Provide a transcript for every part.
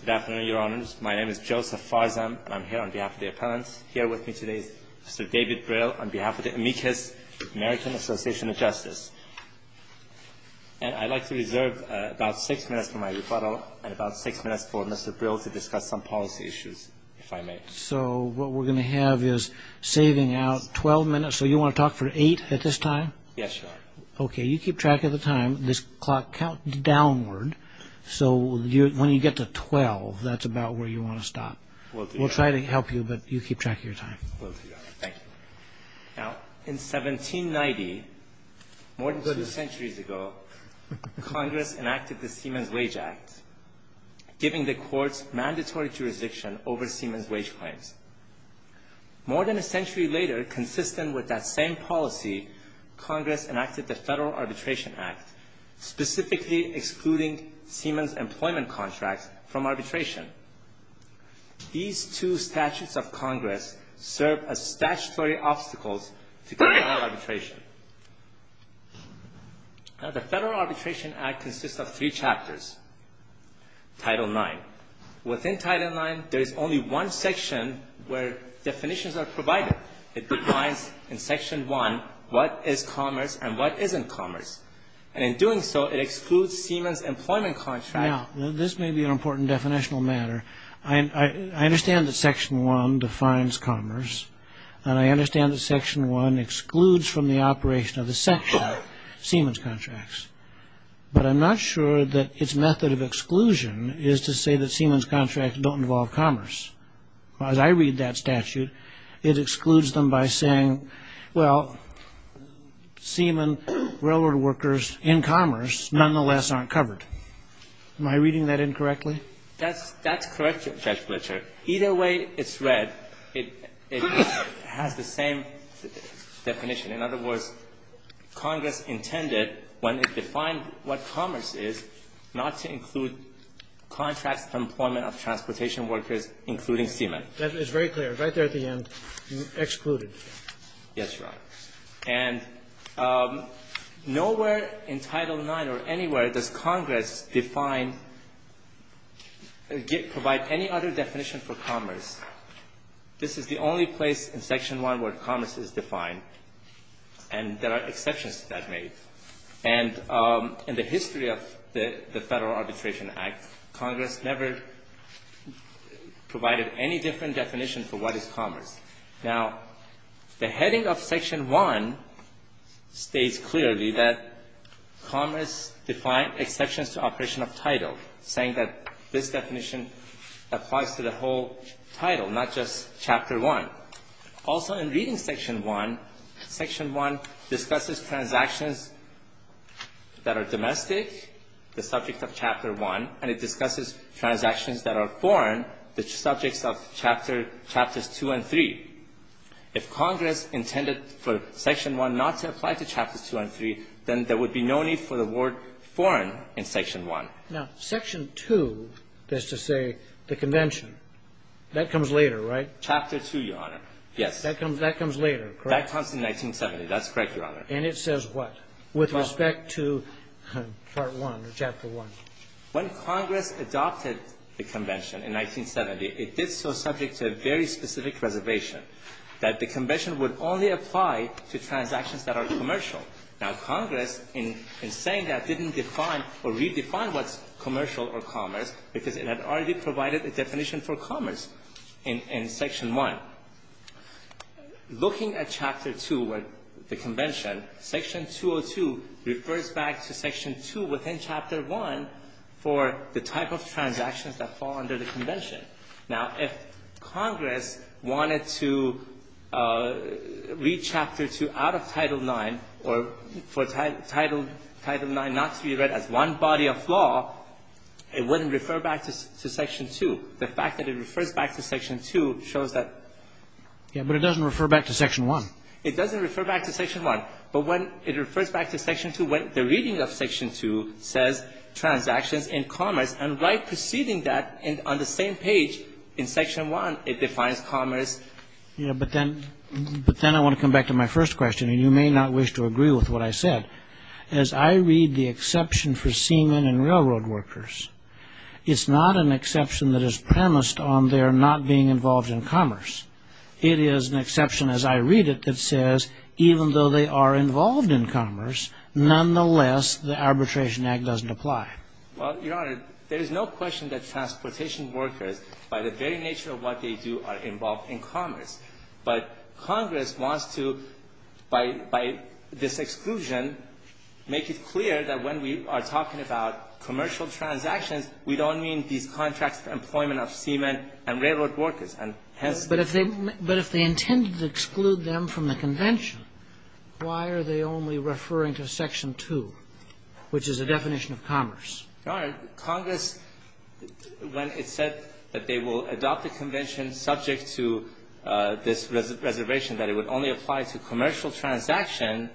Good afternoon, Your Honors. My name is Joseph Farzam, and I'm here on behalf of the appellants. Here with me today is Mr. David Brill on behalf of the Amicus American Association of Justice. And I'd like to reserve about six minutes for my rebuttal and about six minutes for Mr. Brill to discuss some policy issues, if I may. So what we're going to have is saving out 12 minutes. So you want to talk for eight at this time? Yes, Your Honor. Okay. You keep track of the time. This clock counts downward, so when you get to 12, that's about where you want to stop. We'll try to help you, but you keep track of your time. Will do, Your Honor. Thank you. Now, in 1790, more than two centuries ago, Congress enacted the Siemens Wage Act, giving the courts mandatory jurisdiction over Siemens wage claims. More than a century later, consistent with that same policy, Congress enacted the Federal Arbitration Act, specifically excluding Siemens employment contracts from arbitration. These two statutes of Congress serve as statutory obstacles to criminal arbitration. Now, the Federal Arbitration Act consists of three chapters. Title IX. Within Title IX, there is only one section where definitions are provided. It defines in Section 1 what is commerce and what isn't commerce. And in doing so, it excludes Siemens employment contracts. Now, this may be an important definitional matter. I understand that Section 1 defines commerce, and I understand that Section 1 excludes from the operation of the section Siemens contracts. But I'm not sure that its method of exclusion is to say that Siemens contracts don't involve commerce. As I read that statute, it excludes them by saying, well, Siemens railroad workers in commerce nonetheless aren't covered. Am I reading that incorrectly? That's correct, Judge Fletcher. Either way it's read, it has the same definition. In other words, Congress intended, when it defined what commerce is, not to include contracts for employment of transportation workers, including Siemens. That is very clear. Right there at the end, excluded. Yes, Your Honor. And nowhere in Title IX or anywhere does Congress define or provide any other definition for commerce. This is the only place in Section 1 where commerce is defined, and there are exceptions to that made. And in the history of the Federal Arbitration Act, Congress never provided any different definition for what is commerce. Now, the heading of Section 1 states clearly that commerce defined exceptions to operation of title, saying that this definition applies to the whole title, not just Chapter 1. Also in reading Section 1, Section 1 discusses transactions that are domestic, the subject of Chapter 1, and it discusses transactions that are foreign, the subjects of Chapters 2 and 3. If Congress intended for Section 1 not to apply to Chapters 2 and 3, then there would be no need for the word foreign in Section 1. Now, Section 2 is to say the convention. That comes later, right? Chapter 2, Your Honor. Yes. That comes later, correct? That comes in 1970. That's correct, Your Honor. And it says what with respect to Part 1 or Chapter 1? When Congress adopted the convention in 1970, it did so subject to a very specific reservation, that the convention would only apply to transactions that are commercial. Now, Congress, in saying that, didn't define or redefine what's commercial or commerce, because it had already provided a definition for commerce in Section 1. Looking at Chapter 2 where the convention, Section 202 refers back to Section 2 within Chapter 1 for the type of transactions that fall under the convention. Now, if Congress wanted to read Chapter 2 out of Title 9, or for Title 9 not to be read as one body of law, it wouldn't refer back to Section 2. The fact that it refers back to Section 2 shows that. Yes, but it doesn't refer back to Section 1. It doesn't refer back to Section 1. But when it refers back to Section 2, when the reading of Section 2 says transactions in commerce, and right preceding that on the same page in Section 1, it defines commerce. Yeah, but then I want to come back to my first question. And you may not wish to agree with what I said. As I read the exception for seamen and railroad workers, it's not an exception that is premised on their not being involved in commerce. It is an exception, as I read it, that says even though they are involved in commerce, nonetheless, the Arbitration Act doesn't apply. Well, Your Honor, there is no question that transportation workers, by the very nature of what they do, are involved in commerce. But Congress wants to, by this exclusion, make it clear that when we are talking about commercial transactions, we don't mean these contracts for employment of seamen and railroad workers, and hence the question. But if they intended to exclude them from the Convention, why are they only referring to Section 2, which is a definition of commerce? Your Honor, Congress, when it said that they will adopt the Convention subject to this reservation, that it would only apply to commercial transaction.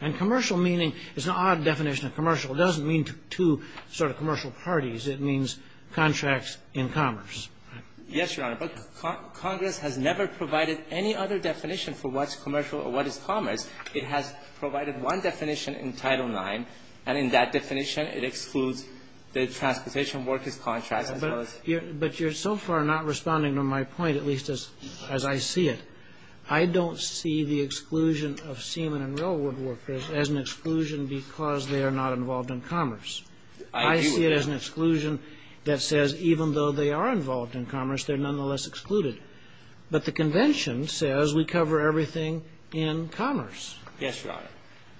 And commercial meaning is an odd definition of commercial. It doesn't mean two sort of commercial parties. It means contracts in commerce. Yes, Your Honor. But Congress has never provided any other definition for what's commercial or what is commerce. It has provided one definition in Title IX. And in that definition, it excludes the transportation workers' contracts as well as ---- But you're so far not responding to my point, at least as I see it. I don't see the exclusion of seamen and railroad workers as an exclusion because they are not involved in commerce. I see it as an exclusion that says even though they are involved in commerce, they're nonetheless excluded. But the Convention says we cover everything in commerce. Yes, Your Honor.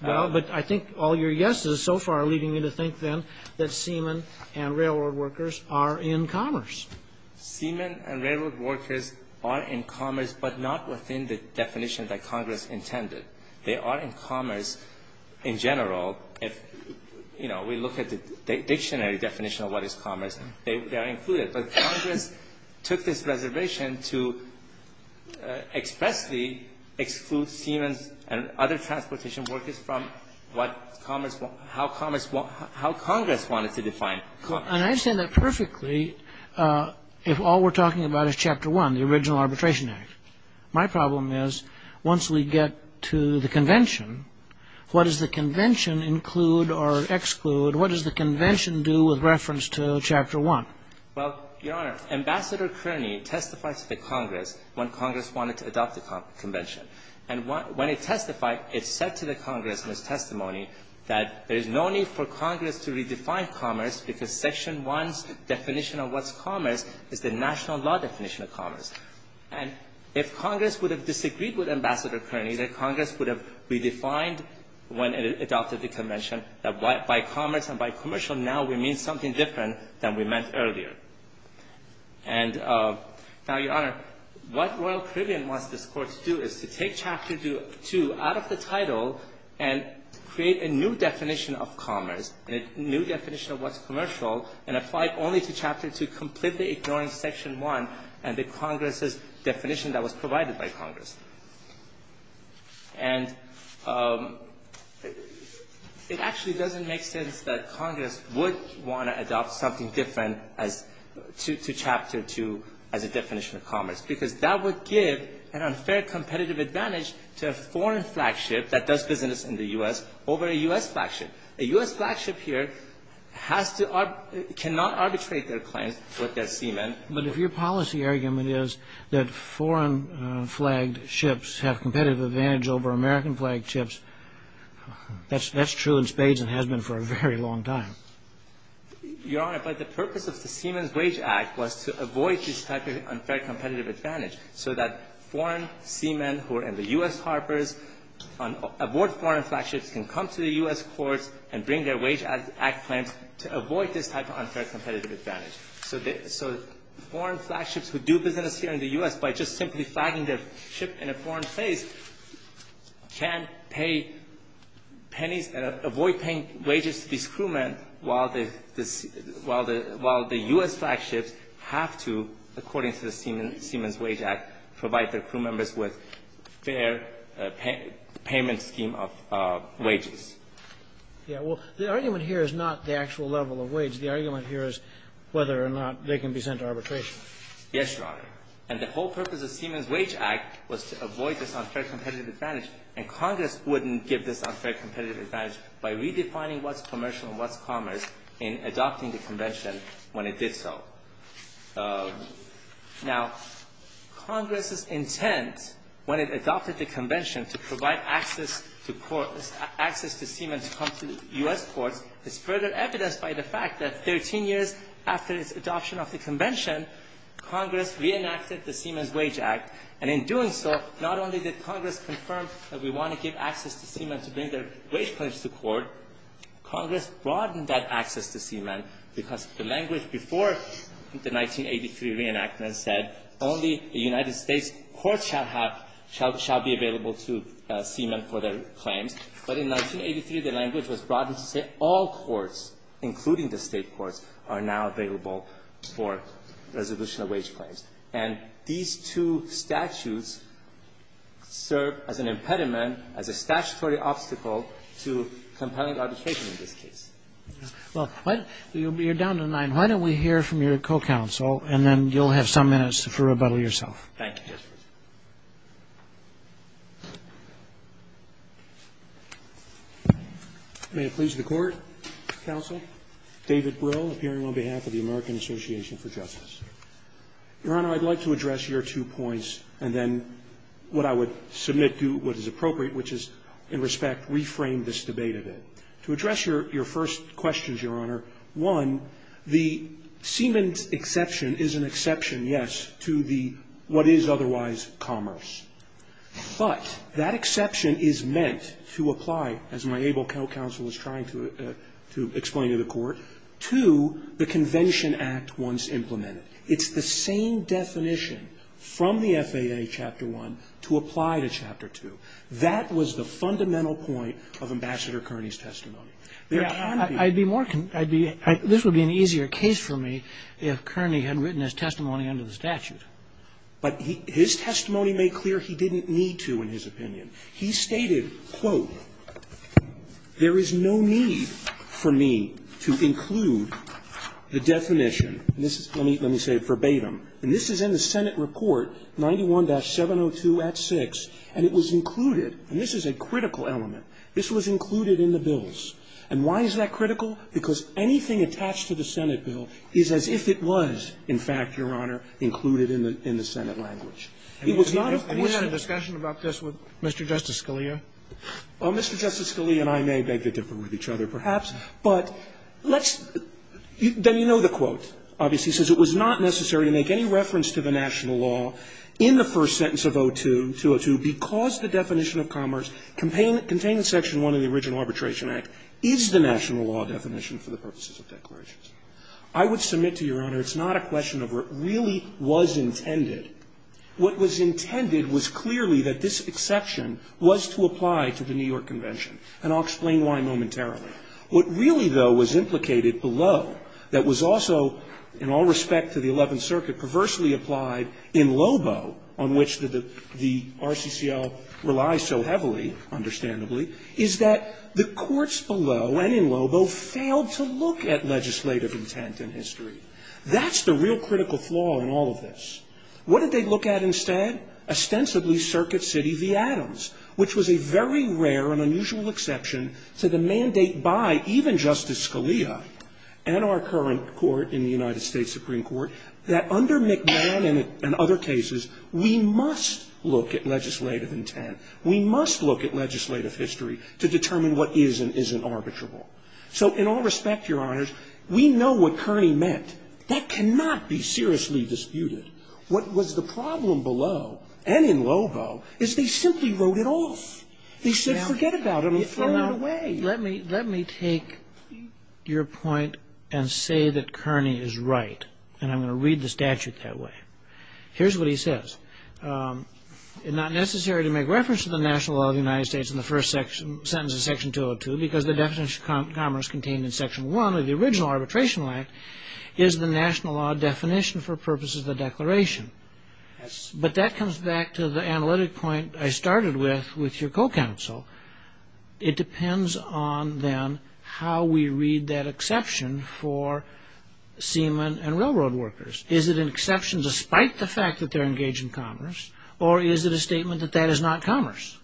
Well, but I think all your yeses so far are leading me to think, then, that seamen and railroad workers are in commerce. Seamen and railroad workers are in commerce, but not within the definition that Congress intended. They are in commerce in general if, you know, we look at the dictionary definition of what is commerce. They are included. But Congress took this reservation to expressly exclude seamen and other transportation workers from what commerce ---- how commerce ---- how Congress wanted to define commerce. And I understand that perfectly if all we're talking about is Chapter 1, the original Arbitration Act. My problem is once we get to the Convention, what does the Convention include or exclude? What does the Convention do with reference to Chapter 1? Well, Your Honor, Ambassador Kearney testified to the Congress when Congress wanted to adopt the Convention. And when it testified, it said to the Congress in its testimony that there is no need for Congress to redefine commerce because Section 1's definition of what's commerce is the national law definition of commerce. And if Congress would have disagreed with Ambassador Kearney, then Congress would have redefined when it adopted the Convention that by commerce and by commercial now we mean something different than we meant earlier. And now, Your Honor, what Royal Caribbean wants this Court to do is to take Chapter 2 out of the title and create a new definition of commerce and a new definition of what's commercial and apply it only to Chapter 2, completely ignoring Section 1 and the Congress's definition that was provided by Congress. And it actually doesn't make sense that Congress would want to adopt something different as to Chapter 2 as a definition of commerce, because that would give an unfair competitive advantage to a foreign flagship that does business in the U.S. over a U.S. flagship. A U.S. flagship here has to arbitrate or cannot arbitrate their claims with their seamen. But if your policy argument is that foreign-flagged ships have competitive advantage over American-flagged ships, that's true in spades and has been for a very long time. Your Honor, but the purpose of the Seamen's Wage Act was to avoid this type of unfair competitive advantage so that foreign seamen who are in the U.S. harbors, aboard foreign flagships, can come to the U.S. courts and bring their Wage Act claims to avoid this type of unfair competitive advantage. So foreign flagships who do business here in the U.S. by just simply flagging their ship in a foreign place can pay pennies and avoid paying wages to these crewmen while the U.S. flagships have to, according to the Seamen's Wage Act, provide their crewmembers with fair payment scheme of wages. Yeah. Well, the argument here is not the actual level of wage. The argument here is whether or not they can be sent to arbitration. Yes, Your Honor. And the whole purpose of Seamen's Wage Act was to avoid this unfair competitive advantage, and Congress wouldn't give this unfair competitive advantage by redefining what's commercial and what's commerce in adopting the Convention when it did so. Now, Congress's intent, when it adopted the Convention, to provide access to Seamen to come to U.S. courts is further evidenced by the fact that 13 years after its adoption of the Convention, Congress reenacted the Seamen's Wage Act. And in doing so, not only did Congress confirm that we want to give access to Seamen to bring their wage claims to court, Congress broadened that access to Seamen because the language before the 1983 reenactment said only a United States court shall have shall be available to Seamen for their claims. But in 1983, the language was broadened to say all courts, including the State courts, are now available for resolution of wage claims. And these two statutes serve as an impediment, as a statutory obstacle to compelling arbitration in this case. Well, you're down to nine. Why don't we hear from your co-counsel, and then you'll have some minutes to rebuttal yourself. Thank you, Justice. May it please the Court. Counsel. David Brill, appearing on behalf of the American Association for Justice. Your Honor, I'd like to address your two points, and then what I would submit to what is appropriate, which is, in respect, reframe this debate a bit. To address your first questions, Your Honor, one, the Seamen's exception is an exception, yes, to the what is otherwise commerce. But that exception is meant to apply, as my able counsel is trying to explain to the Court, to the Convention Act once implemented. It's the same definition from the FAA Chapter 1 to apply to Chapter 2. That was the fundamental point of Ambassador Kearney's testimony. There can be more. This would be an easier case for me if Kearney had written his testimony under the statute. But his testimony made clear he didn't need to, in his opinion. He stated, quote, there is no need for me to include the definition. Let me say it verbatim. And this is in the Senate Report 91-702 at 6, and it was included, and this is a critical element. This was included in the bills. And why is that critical? Because anything attached to the Senate bill is as if it was, in fact, Your Honor, included in the Senate language. It was not, of course, a question. Scalia. And you had a discussion about this with Mr. Justice Scalia? Well, Mr. Justice Scalia and I may beg to differ with each other, perhaps. But let's – then you know the quote, obviously, says it was not necessary to make any reference to the national law in the first sentence of 02-202 because the definition of commerce contained in Section 1 of the original Arbitration Act is the national law definition for the purposes of declarations. I would submit to Your Honor it's not a question of what really was intended. What was intended was clearly that this exception was to apply to the New York Convention, and I'll explain why momentarily. What really, though, was implicated below that was also, in all respect to the Eleventh Circuit, perversely applied in Lobo, on which the RCCL relies so heavily, understandably, is that the courts below and in Lobo failed to look at legislative intent in history. That's the real critical flaw in all of this. What did they look at instead? Ostensibly Circuit City v. Adams, which was a very rare and unusual exception to the mandate by even Justice Scalia and our current court in the United States to determine what is and isn't arbitrable. So in all respect, Your Honors, we know what Kearney meant. That cannot be seriously disputed. What was the problem below and in Lobo is they simply wrote it off. They said, forget about it, I'm throwing it away. Let me take your point and say that Kearney is right, and I'm going to read the statute that way. Here's what he says. It's not necessary to make reference to the national law of the United States in the first sentence of Section 202 because the definition of commerce contained in Section 1 of the original Arbitration Act is the national law definition for purposes of the Declaration. But that comes back to the analytic point I started with with your co-counsel. It depends on, then, how we read that exception for seamen and railroad workers. Is it an exception despite the fact that they're engaged in commerce, or is it a statement that that is not commerce?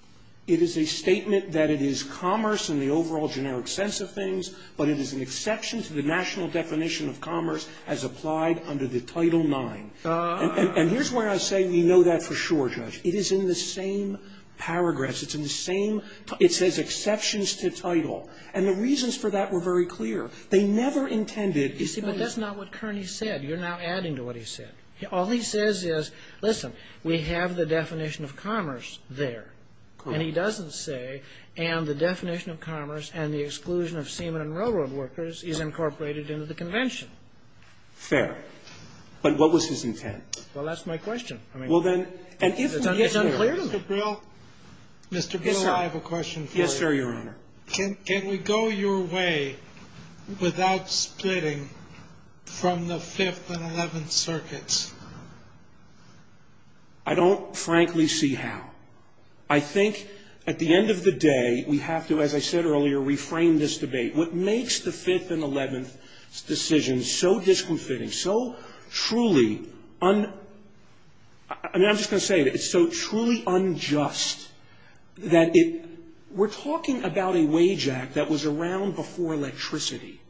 It is a statement that it is commerce in the overall generic sense of things, but it is an exception to the national definition of commerce as applied under the Title IX. And here's where I say we know that for sure, Judge. It is in the same paragraphs. It's in the same – it says exceptions to title. And the reasons for that were very clear. They never intended – You see, but that's not what Kearney said. You're now adding to what he said. All he says is, listen, we have the definition of commerce there. And he doesn't say, and the definition of commerce and the exclusion of seamen and railroad workers is incorporated into the Convention. Fair. But what was his intent? Well, that's my question. I mean, it's unclear to me. Mr. Brill, Mr. Brill, I have a question for you. Yes, sir, Your Honor. Can we go your way without splitting from the Fifth and Eleventh Circuits? I don't, frankly, see how. I think at the end of the day, we have to, as I said earlier, reframe this debate. What makes the Fifth and Eleventh's decision so disconfitting, so truly – I mean, I'm just going to say it. It's so truly unjust that it – we're talking about a wage act that was around before electricity.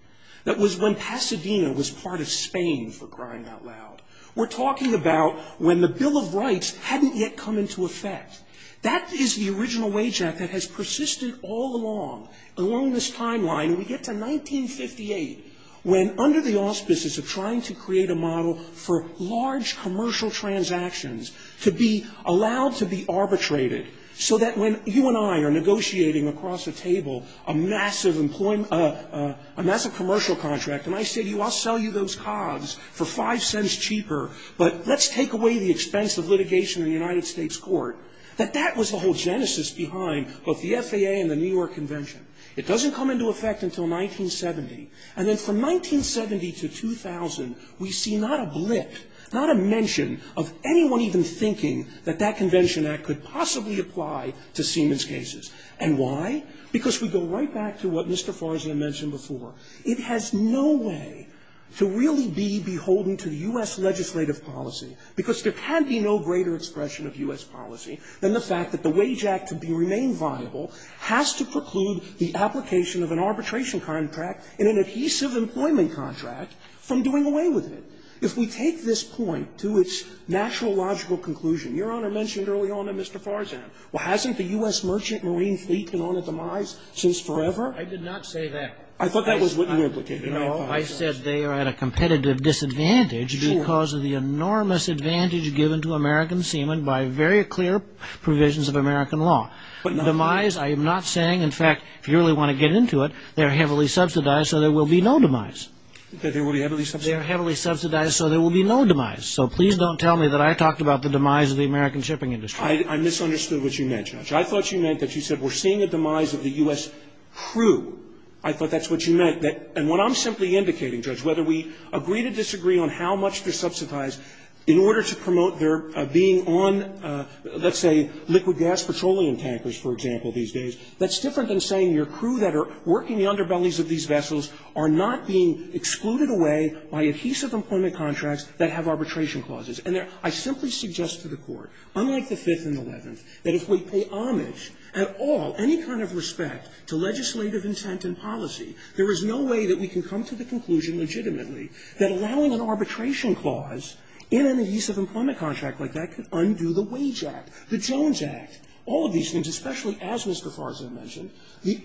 That was when Pasadena was part of Spain, for crying out loud. We're talking about when the Bill of Rights hadn't yet come into effect. That is the original wage act that has persisted all along, along this timeline. We get to 1958, when under the auspices of trying to create a model for large commercial transactions to be allowed to be arbitrated, so that when you and I are negotiating across the table a massive employment – a massive commercial contract, and I say to you, I'll sell you those cogs for 5 cents cheaper, but let's take away the expense of litigation in the United States court, that that was the whole genesis behind both the FAA and the New York Convention. It doesn't come into effect until 1970. And then from 1970 to 2000, we see not a blip, not a mention of anyone even thinking that that Convention Act could possibly apply to Siemens cases. And why? Because we go right back to what Mr. Farzian mentioned before. It has no way to really be beholden to U.S. legislative policy, because there can be no greater expression of U.S. policy than the fact that the Wage Act, to remain viable, has to preclude the application of an arbitration contract and an adhesive employment contract from doing away with it. If we take this point to its natural, logical conclusion, Your Honor mentioned early on to Mr. Farzian, well, hasn't the U.S. Merchant Marine Fleet been on a demise since forever? I did not say that. I thought that was what you implicated. I said they are at a competitive disadvantage because of the enormous advantage given to American Siemens by very clear provisions of American law. Demise, I am not saying. In fact, if you really want to get into it, they are heavily subsidized, so there will be no demise. They are heavily subsidized, so there will be no demise. So please don't tell me that I talked about the demise of the American shipping industry. I misunderstood what you meant, Judge. I thought you meant that you said we're seeing a demise of the U.S. crew. I thought that's what you meant. And what I'm simply indicating, Judge, whether we agree to disagree on how much they're being on, let's say, liquid gas petroleum tankers, for example, these days, that's different than saying your crew that are working the underbellies of these vessels are not being excluded away by adhesive employment contracts that have arbitration clauses. And I simply suggest to the Court, unlike the Fifth and Eleventh, that if we pay homage at all, any kind of respect to legislative intent and policy, there is no way that we can come to the conclusion legitimately that allowing an arbitration clause in an arbitration contract like that could undo the Wage Act, the Jones Act, all of these things, especially as Mr. Farza mentioned. The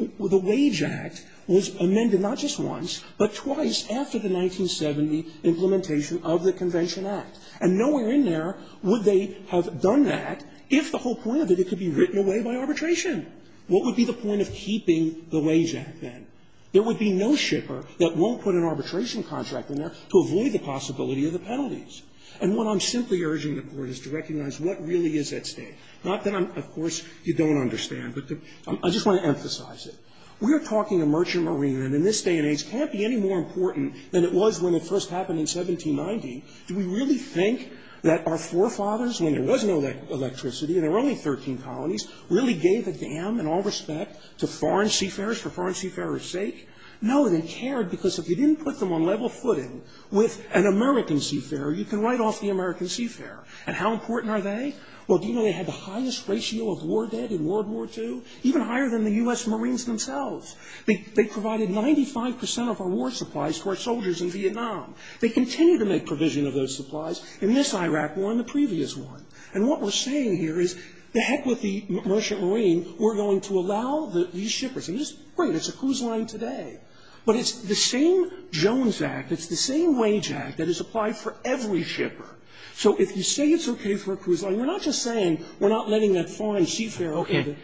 Wage Act was amended not just once, but twice after the 1970 implementation of the Convention Act. And nowhere in there would they have done that if the whole point of it, it could be written away by arbitration. What would be the point of keeping the Wage Act, then? There would be no shipper that won't put an arbitration contract in there to avoid the possibility of the penalties. And what I'm simply urging the Court is to recognize what really is at stake. Not that I'm, of course, you don't understand, but I just want to emphasize it. We are talking a merchant marine, and in this day and age, it can't be any more important than it was when it first happened in 1790. Do we really think that our forefathers, when there was no electricity, there were only 13 colonies, really gave a damn and all respect to foreign seafarers for foreign seafarers' sake? No, they cared because if you didn't put them on level footing with an American seafarer, you can write off the American seafarer. And how important are they? Well, do you know they had the highest ratio of war dead in World War II? Even higher than the U.S. Marines themselves. They provided 95 percent of our war supplies to our soldiers in Vietnam. They continue to make provision of those supplies in this Iraq war and the previous one. And what we're saying here is, to heck with the merchant marine. We're going to allow these shippers. And this is great. It's a cruise line today. But it's the same Jones Act. It's the same wage act that is applied for every shipper. So if you say it's okay for a cruise line, you're not just saying we're not letting that foreign seafarer. Okay.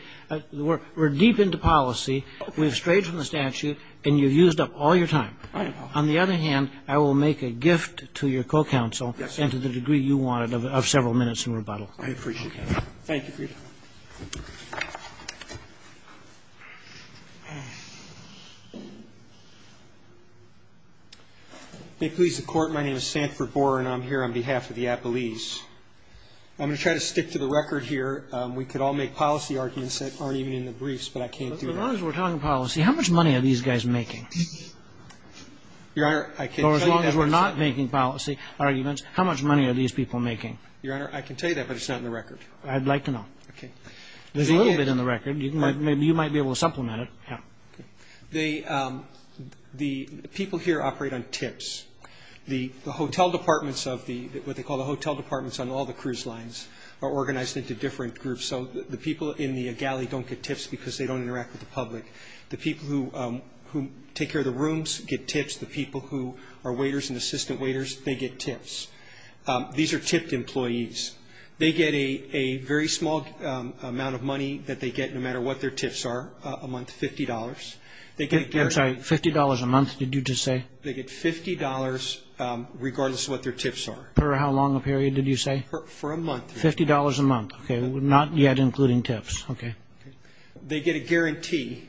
We're deep into policy. We have strayed from the statute, and you've used up all your time. On the other hand, I will make a gift to your co-counsel and to the degree you wanted of several minutes in rebuttal. I appreciate that. Thank you for your time. May it please the Court. My name is Sanford Borer, and I'm here on behalf of the Appalese. I'm going to try to stick to the record here. We could all make policy arguments that aren't even in the briefs, but I can't do that. As long as we're talking policy, how much money are these guys making? Your Honor, I can't tell you that. Or as long as we're not making policy arguments, how much money are these people making? Your Honor, I can tell you that, but it's not in the record. I'd like to know. Okay. There's a little bit in the record. Maybe you might be able to supplement it. Yeah. Okay. The people here operate on tips. The hotel departments of the what they call the hotel departments on all the cruise lines are organized into different groups. So the people in the galley don't get tips because they don't interact with the public. The people who take care of the rooms get tips. The people who are waiters and assistant waiters, they get tips. These are tipped employees. They get a very small amount of money that they get no matter what their tips are a month, $50. I'm sorry. $50 a month, did you just say? They get $50 regardless of what their tips are. Per how long a period, did you say? For a month. $50 a month. Okay. Not yet including tips. Okay. They get a guarantee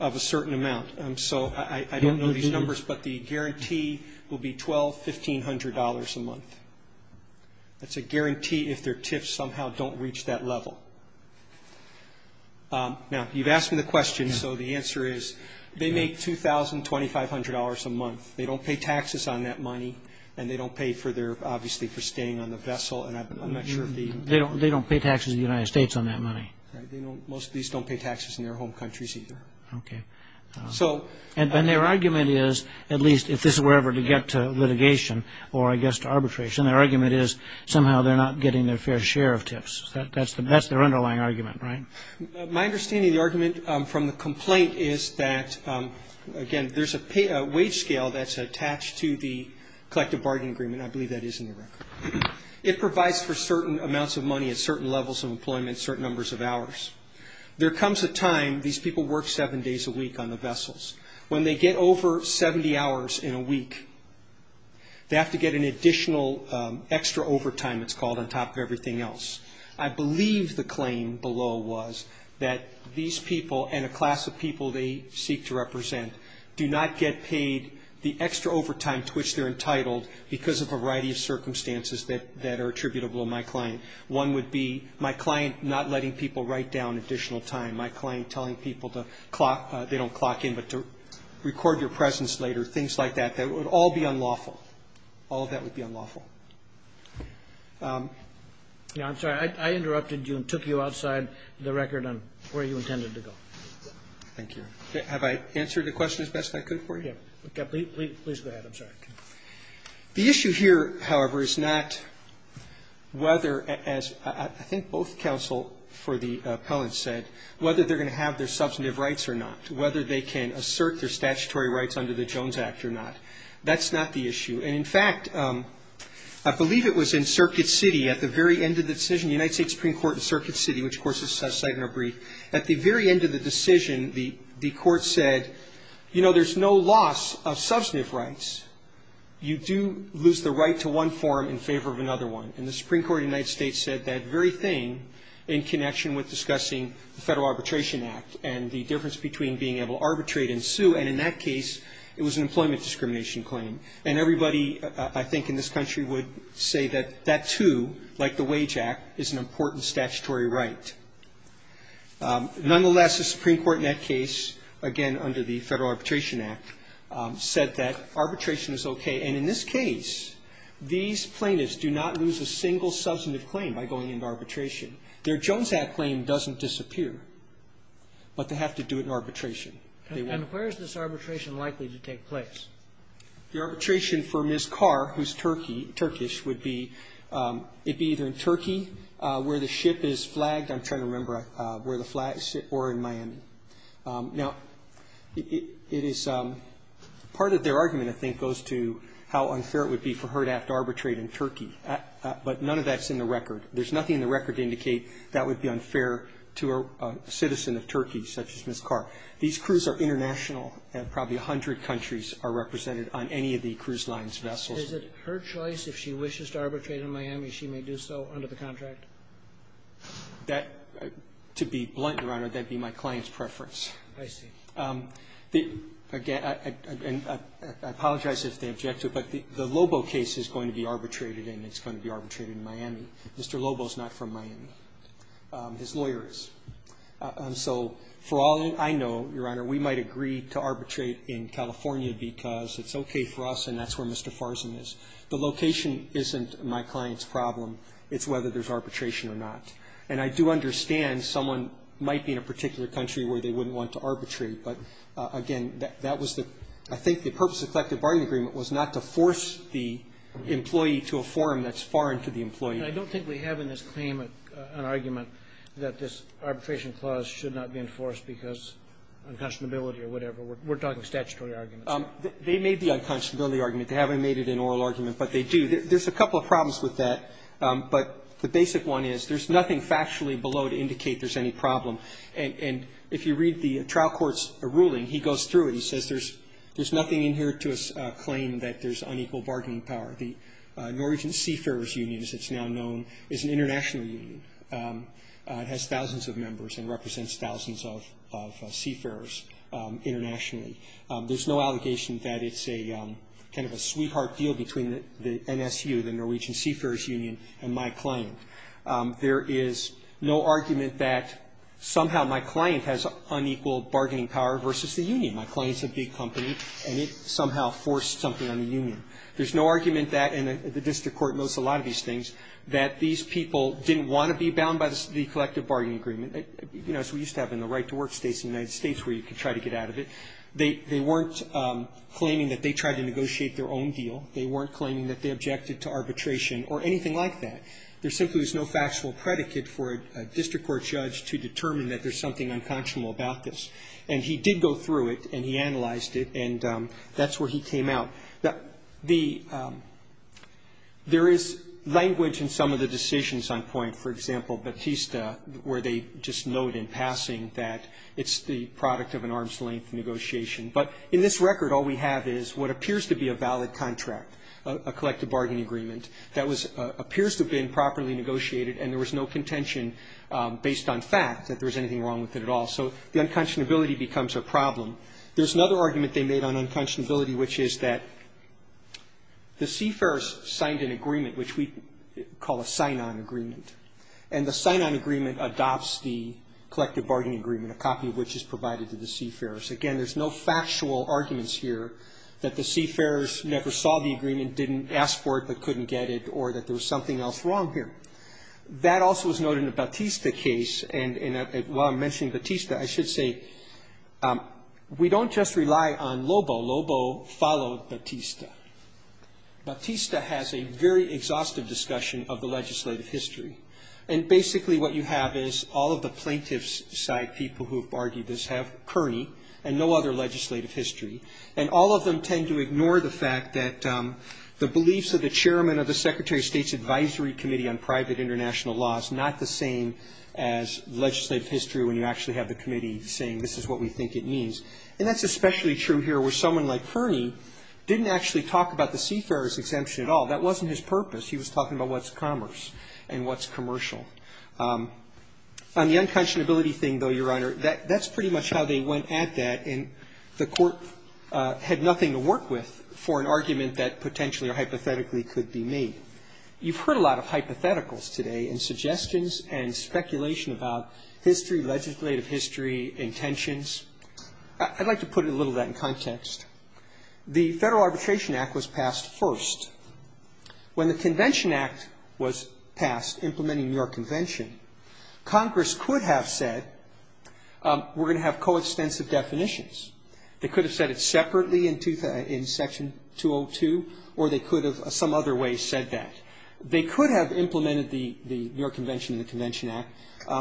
of a certain amount. So I don't know these numbers, but the guarantee will be $1,200, $1,500 a month. That's a guarantee if their tips somehow don't reach that level. Now, you've asked me the question, so the answer is they make $2,000, $2,500 a month. They don't pay taxes on that money, and they don't pay for their obviously for staying on the vessel. I'm not sure. They don't pay taxes in the United States on that money. Right. Most of these don't pay taxes in their home countries either. Okay. And their argument is, at least if this were ever to get to litigation or, I guess, to arbitration, their argument is somehow they're not getting their fair share of tips. That's their underlying argument, right? My understanding of the argument from the complaint is that, again, there's a wage scale that's attached to the collective bargaining agreement. I believe that is in the record. It provides for certain amounts of money at certain levels of employment, certain numbers of hours. There comes a time these people work seven days a week on the vessels. When they get over 70 hours in a week, they have to get an additional extra overtime, it's called, on top of everything else. I believe the claim below was that these people and a class of people they seek to represent do not get paid the extra overtime to which they're entitled because of a variety of circumstances that are attributable to my client. One would be my client not letting people write down additional time, my client telling people they don't clock in but to record your presence later, things like that. That would all be unlawful. All of that would be unlawful. Yeah, I'm sorry. I interrupted you and took you outside the record on where you intended to go. Thank you. Have I answered the question as best I could for you? Yeah. Please go ahead. I'm sorry. The issue here, however, is not whether, as I think both counsel for the appellant said, whether they're going to have their substantive rights or not, whether they can assert their statutory rights under the Jones Act or not. That's not the issue. And, in fact, I believe it was in Circuit City at the very end of the decision, the United States Supreme Court in Circuit City, which, of course, is cited in our brief. At the very end of the decision, the court said, you know, there's no loss of substantive rights. You do lose the right to one form in favor of another one. And the Supreme Court of the United States said that very thing in connection with discussing the Federal Arbitration Act and the difference between being able to arbitrate and sue. And in that case, it was an employment discrimination claim. And everybody, I think, in this country would say that that, too, like the Wage Act, is an important statutory right. Nonetheless, the Supreme Court in that case, again, under the Federal Arbitration Act, said that arbitration is okay. And in this case, these plaintiffs do not lose a single substantive claim by going into arbitration. Their Jones Act claim doesn't disappear, but they have to do it in arbitration. And where is this arbitration likely to take place? The arbitration for Ms. Carr, who's Turkey, Turkish, would be, it would be either in Turkey, where the ship is flagged. I'm trying to remember where the flag is, or in Miami. Now, it is, part of their argument, I think, goes to how unfair it would be for her to have to arbitrate in Turkey. But none of that's in the record. There's nothing in the record to indicate that would be unfair to a citizen of Turkey, such as Ms. Carr. These crews are international, and probably 100 countries are represented on any of the cruise line's vessels. Roberts. Is it her choice, if she wishes to arbitrate in Miami, she may do so under the contract? That, to be blunt, Your Honor, that would be my client's preference. I see. Again, I apologize if they object to it, but the Lobo case is going to be arbitrated and it's going to be arbitrated in Miami. Mr. Lobo is not from Miami. His lawyer is. And so, for all I know, Your Honor, we might agree to arbitrate in California because it's okay for us and that's where Mr. Farzan is. The location isn't my client's problem. It's whether there's arbitration or not. And I do understand someone might be in a particular country where they wouldn't want to arbitrate. But, again, that was the – I think the purpose of the collective bargaining agreement was not to force the employee to a forum that's foreign to the employee. I don't think we have in this claim an argument that this arbitration clause should not be enforced because of unconscionability or whatever. We're talking statutory arguments. They made the unconscionability argument. They haven't made it an oral argument, but they do. There's a couple of problems with that, but the basic one is there's nothing factually below to indicate there's any problem. And if you read the trial court's ruling, he goes through it. He says there's nothing in here to claim that there's unequal bargaining power. The Norwegian Seafarers Union, as it's now known, is an international union. It has thousands of members and represents thousands of seafarers internationally. There's no allegation that it's a kind of a sweetheart deal between the NSU, the Norwegian Seafarers Union, and my client. There is no argument that somehow my client has unequal bargaining power versus the union. My client's a big company, and it somehow forced something on the union. There's no argument that, and the district court knows a lot of these things, that these people didn't want to be bound by the collective bargaining agreement. You know, as we used to have in the right-to-work states in the United States where you could try to get out of it. They weren't claiming that they tried to negotiate their own deal. They weren't claiming that they objected to arbitration or anything like that. There simply was no factual predicate for a district court judge to determine that there's something unconscionable about this. And he did go through it, and he analyzed it, and that's where he came out. Now, the – there is language in some of the decisions on point. For example, Batista, where they just note in passing that it's the product of an arm's-length negotiation. But in this record, all we have is what appears to be a valid contract, a collective bargaining agreement, that was – appears to have been properly negotiated, and there was no contention based on fact that there was anything wrong with it at all. So the unconscionability becomes a problem. There's another argument they made on unconscionability, which is that the CFERs signed an agreement, which we call a sign-on agreement, and the sign-on agreement adopts the collective bargaining agreement, a copy of which is provided to the CFERs. Again, there's no factual arguments here that the CFERs never saw the agreement, didn't ask for it, but couldn't get it, or that there was something else wrong here. That also was noted in the Batista case. And while I'm mentioning Batista, I should say we don't just rely on Lobo. Lobo followed Batista. Batista has a very exhaustive discussion of the legislative history. And basically what you have is all of the plaintiff's side people who have argued this have Kearney and no other legislative history. And all of them tend to ignore the fact that the beliefs of the chairman of the committee saying this is what we think it means. And that's especially true here where someone like Kearney didn't actually talk about the CFERs exemption at all. That wasn't his purpose. He was talking about what's commerce and what's commercial. On the unconscionability thing, though, Your Honor, that's pretty much how they went at that, and the Court had nothing to work with for an argument that potentially or hypothetically could be made. You've heard a lot of hypotheticals today and suggestions and speculation about history, legislative history, intentions. I'd like to put a little of that in context. The Federal Arbitration Act was passed first. When the Convention Act was passed, implementing your convention, Congress could have said we're going to have coextensive definitions. They could have said it separately in Section 202, or they could have some other way said that. They could have implemented the New York Convention and the Convention Act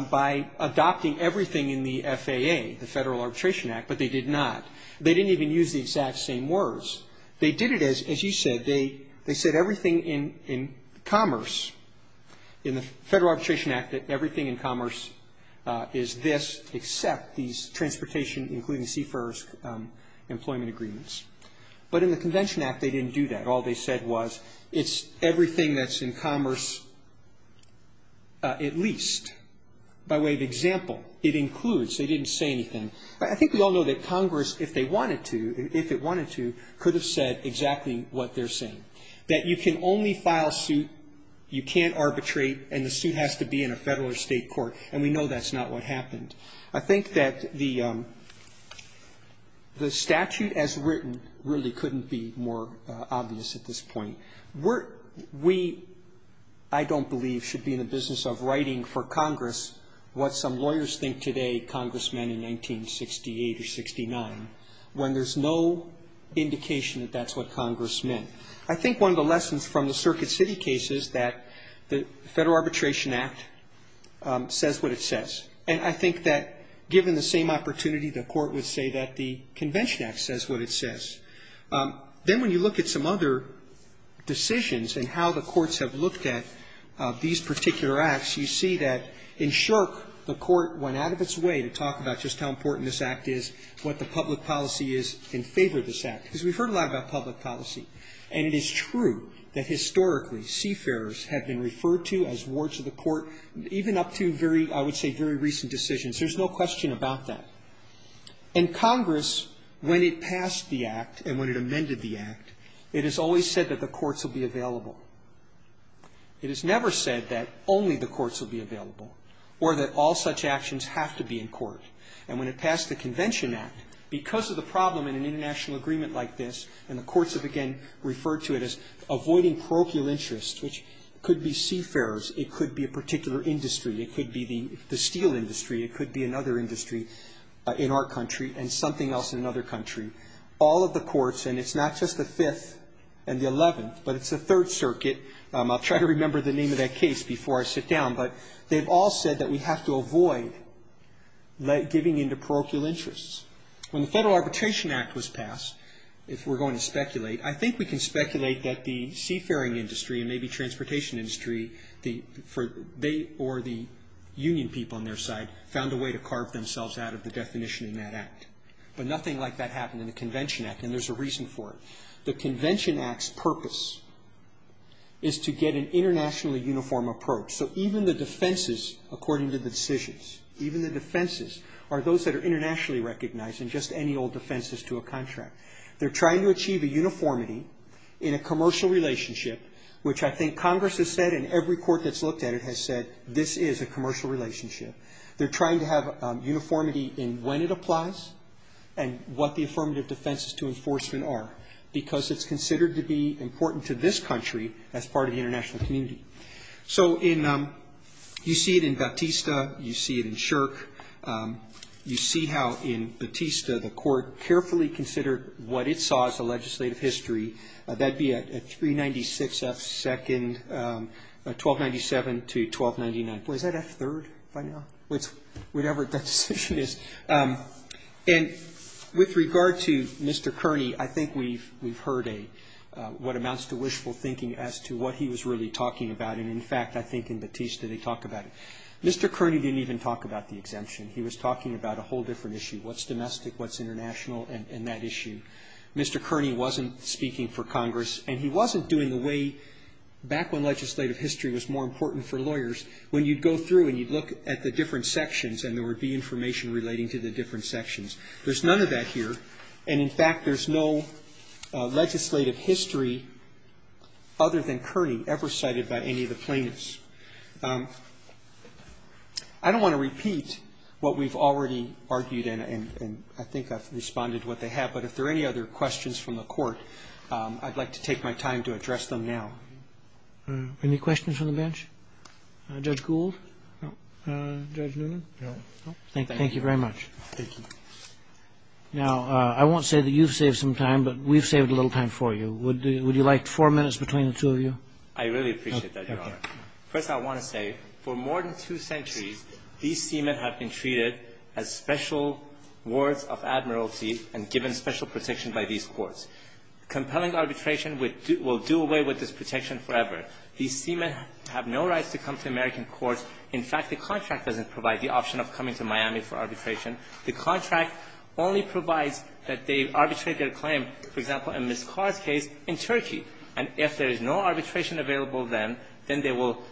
by adopting everything in the FAA, the Federal Arbitration Act, but they did not. They didn't even use the exact same words. They did it as you said. They said everything in commerce, in the Federal Arbitration Act, that everything in commerce is this except these transportation, including CFERs employment agreements. But in the Convention Act, they didn't do that. All they said was it's everything that's in commerce at least. By way of example, it includes. They didn't say anything. I think we all know that Congress, if they wanted to, if it wanted to, could have said exactly what they're saying, that you can only file suit, you can't arbitrate, and the suit has to be in a Federal or State court, and we know that's not what happened. I think that the statute as written really couldn't be more obvious at this point. We, I don't believe, should be in the business of writing for Congress what some lawyers think today Congressmen in 1968 or 69 when there's no indication that that's what Congressmen. I think one of the lessons from the Circuit City case is that the Federal Arbitration Act says what it says. And I think that given the same opportunity, the court would say that the Convention Act says what it says. Then when you look at some other decisions and how the courts have looked at these particular acts, you see that in short, the court went out of its way to talk about just how important this act is, what the public policy is in favor of this act. Because we've heard a lot about public policy, and it is true that historically CFERs have been referred to as wards of the court, even up to very, I would say, very recent decisions. There's no question about that. In Congress, when it passed the act and when it amended the act, it has always said that the courts will be available. It has never said that only the courts will be available or that all such actions have to be in court. And when it passed the Convention Act, because of the problem in an international agreement like this, and the courts have again referred to it as avoiding parochial interests, which could be CFERs. It could be a particular industry. It could be the steel industry. It could be another industry in our country and something else in another country. All of the courts, and it's not just the Fifth and the Eleventh, but it's the Third Circuit. I'll try to remember the name of that case before I sit down. But they've all said that we have to avoid giving in to parochial interests. When the Federal Arbitration Act was passed, if we're going to speculate, I think we can speculate that the seafaring industry and maybe transportation industry, they or the union people on their side, found a way to carve themselves out of the definition in that act. But nothing like that happened in the Convention Act, and there's a reason for it. The Convention Act's purpose is to get an internationally uniform approach. So even the defenses, according to the decisions, even the defenses are those that are internationally recognized and just any old defenses to a contract. They're trying to achieve a uniformity in a commercial relationship, which I think Congress has said and every court that's looked at it has said, this is a commercial relationship. They're trying to have uniformity in when it applies and what the affirmative defenses to enforcement are because it's considered to be important to this country as part of the international community. You see it in Shirk. You see how in Batista the court carefully considered what it saw as a legislative history. That'd be a 396 F. 2nd, 1297 to 1299. Was that F. 3rd by now? Whatever that decision is. And with regard to Mr. Kearney, I think we've heard a what amounts to wishful thinking as to what he was really talking about. And, in fact, I think in Batista they talk about it. Mr. Kearney didn't even talk about the exemption. He was talking about a whole different issue, what's domestic, what's international and that issue. Mr. Kearney wasn't speaking for Congress and he wasn't doing the way back when legislative history was more important for lawyers when you'd go through and you'd look at the different sections and there would be information relating to the different sections. There's none of that here. And, in fact, there's no legislative history other than Kearney ever cited by any of the plaintiffs. I don't want to repeat what we've already argued and I think I've responded to what they have. But if there are any other questions from the Court, I'd like to take my time to address them now. Any questions from the bench? Judge Gould? No. Judge Newman? No. Thank you very much. Thank you. Now, I won't say that you've saved some time, but we've saved a little time for you. Would you like four minutes between the two of you? I really appreciate that, Your Honor. First, I want to say, for more than two centuries, these seamen have been treated as special wards of admiralty and given special protection by these courts. Compelling arbitration will do away with this protection forever. These seamen have no rights to come to American courts. In fact, the contract doesn't provide the option of coming to Miami for arbitration. The contract only provides that they arbitrate their claim, for example, in Ms. Carr's case in Turkey. And if there is no arbitration available then, then they will –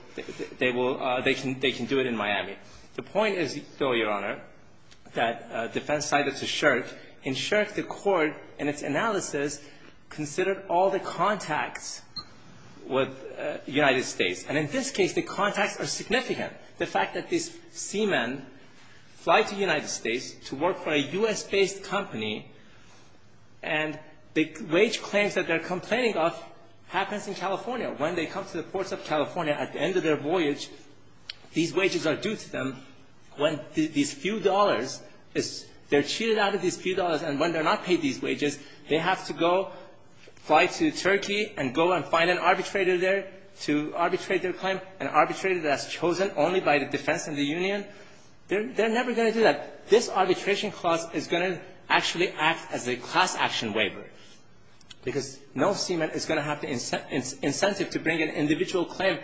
they will – they can do it in Miami. The point is, though, Your Honor, that defense cited to Shirk. In Shirk, the Court, in its analysis, considered all the contacts with the United States. And in this case, the contacts are significant. The fact that these seamen fly to the United States to work for a U.S.-based company and the wage claims that they're complaining of happens in California. When they come to the ports of California at the end of their voyage, these wages are due to them when these few dollars is – they're cheated out of these few dollars and when they're not paid these wages, they have to go fly to Turkey and go and find an arbitrator there to arbitrate their claim, an arbitrator that's chosen only by the defense and the union. They're never going to do that. This arbitration clause is going to actually act as a class action waiver because no seaman is going to have the incentive to bring an individual claim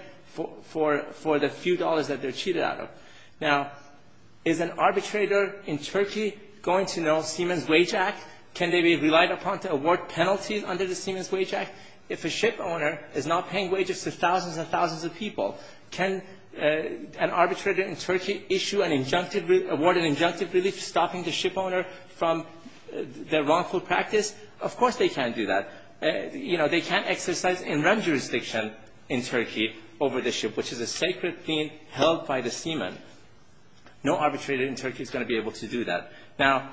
for the few dollars that they're cheated out of. Now, is an arbitrator in Turkey going to know Seaman's Wage Act? Can they be relied upon to award penalties under the Seaman's Wage Act? If a shipowner is not paying wages to thousands and thousands of people, can an arbitrator in Turkey issue an injunctive – award an injunctive relief stopping the shipowner from their wrongful practice? Of course they can't do that. You know, they can't exercise in-run jurisdiction in Turkey over the ship, which is a sacred thing held by the seaman. No arbitrator in Turkey is going to be able to do that. Now,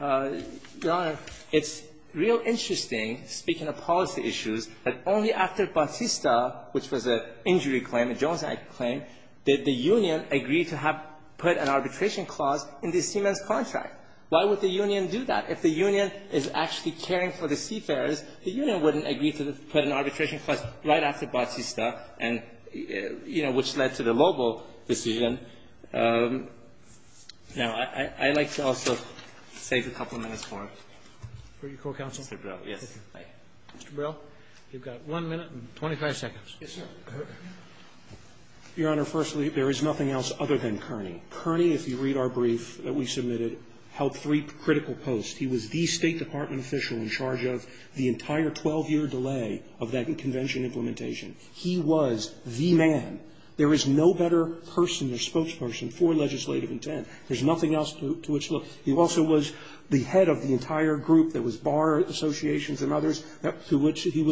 Your Honor, it's real interesting, speaking of policy issues, that only after arbitration clause in the seaman's contract. Why would the union do that? If the union is actually caring for the seafarers, the union wouldn't agree to put an arbitration clause right after Batista and, you know, which led to the Lobo decision. Now, I'd like to also save a couple of minutes for him. Mr. Brell. Yes. Mr. Brell, you've got one minute and 25 seconds. Yes, sir. Your Honor, firstly, there is nothing else other than Kearney. Kearney, if you read our brief that we submitted, held three critical posts. He was the State Department official in charge of the entire 12-year delay of that convention implementation. He was the man. There is no better person or spokesperson for legislative intent. There's nothing else to which – he also was the head of the entire group that was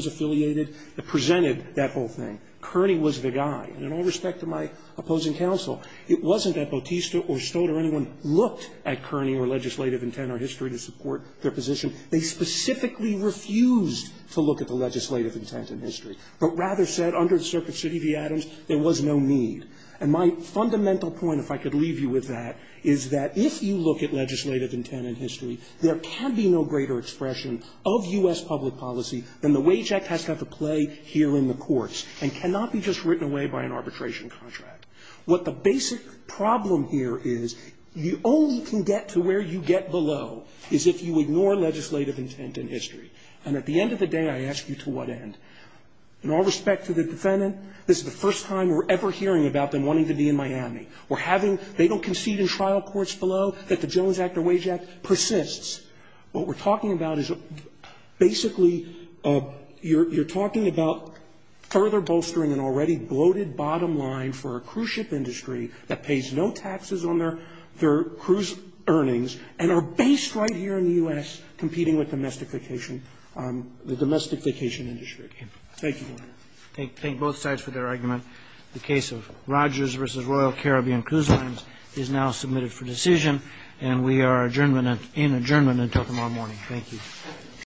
affiliated, that presented that whole thing. Kearney was the guy. And in all respect to my opposing counsel, it wasn't that Batista or Stoddard or anyone looked at Kearney or legislative intent or history to support their position. They specifically refused to look at the legislative intent in history, but rather said under the Circuit of City v. Adams, there was no need. And my fundamental point, if I could leave you with that, is that if you look at legislative intent in history, there can be no greater expression of U.S. public policy than the Wage Act has to have a play here in the courts and cannot be just written away by an arbitration contract. What the basic problem here is, you only can get to where you get below is if you ignore legislative intent in history. And at the end of the day, I ask you to what end? In all respect to the defendant, this is the first time we're ever hearing about them wanting to be in Miami or having – they don't concede in trial courts below that the Jones Act or Wage Act persists. What we're talking about is basically you're talking about further bolstering an already bloated bottom line for a cruise ship industry that pays no taxes on their cruise earnings and are based right here in the U.S. competing with domestication – the domestication industry. Thank you, Your Honor. Thank both sides for their argument. The case of Rogers v. Royal Caribbean Cruise Lines is now submitted for decision, and we are in adjournment until tomorrow morning. Thank you.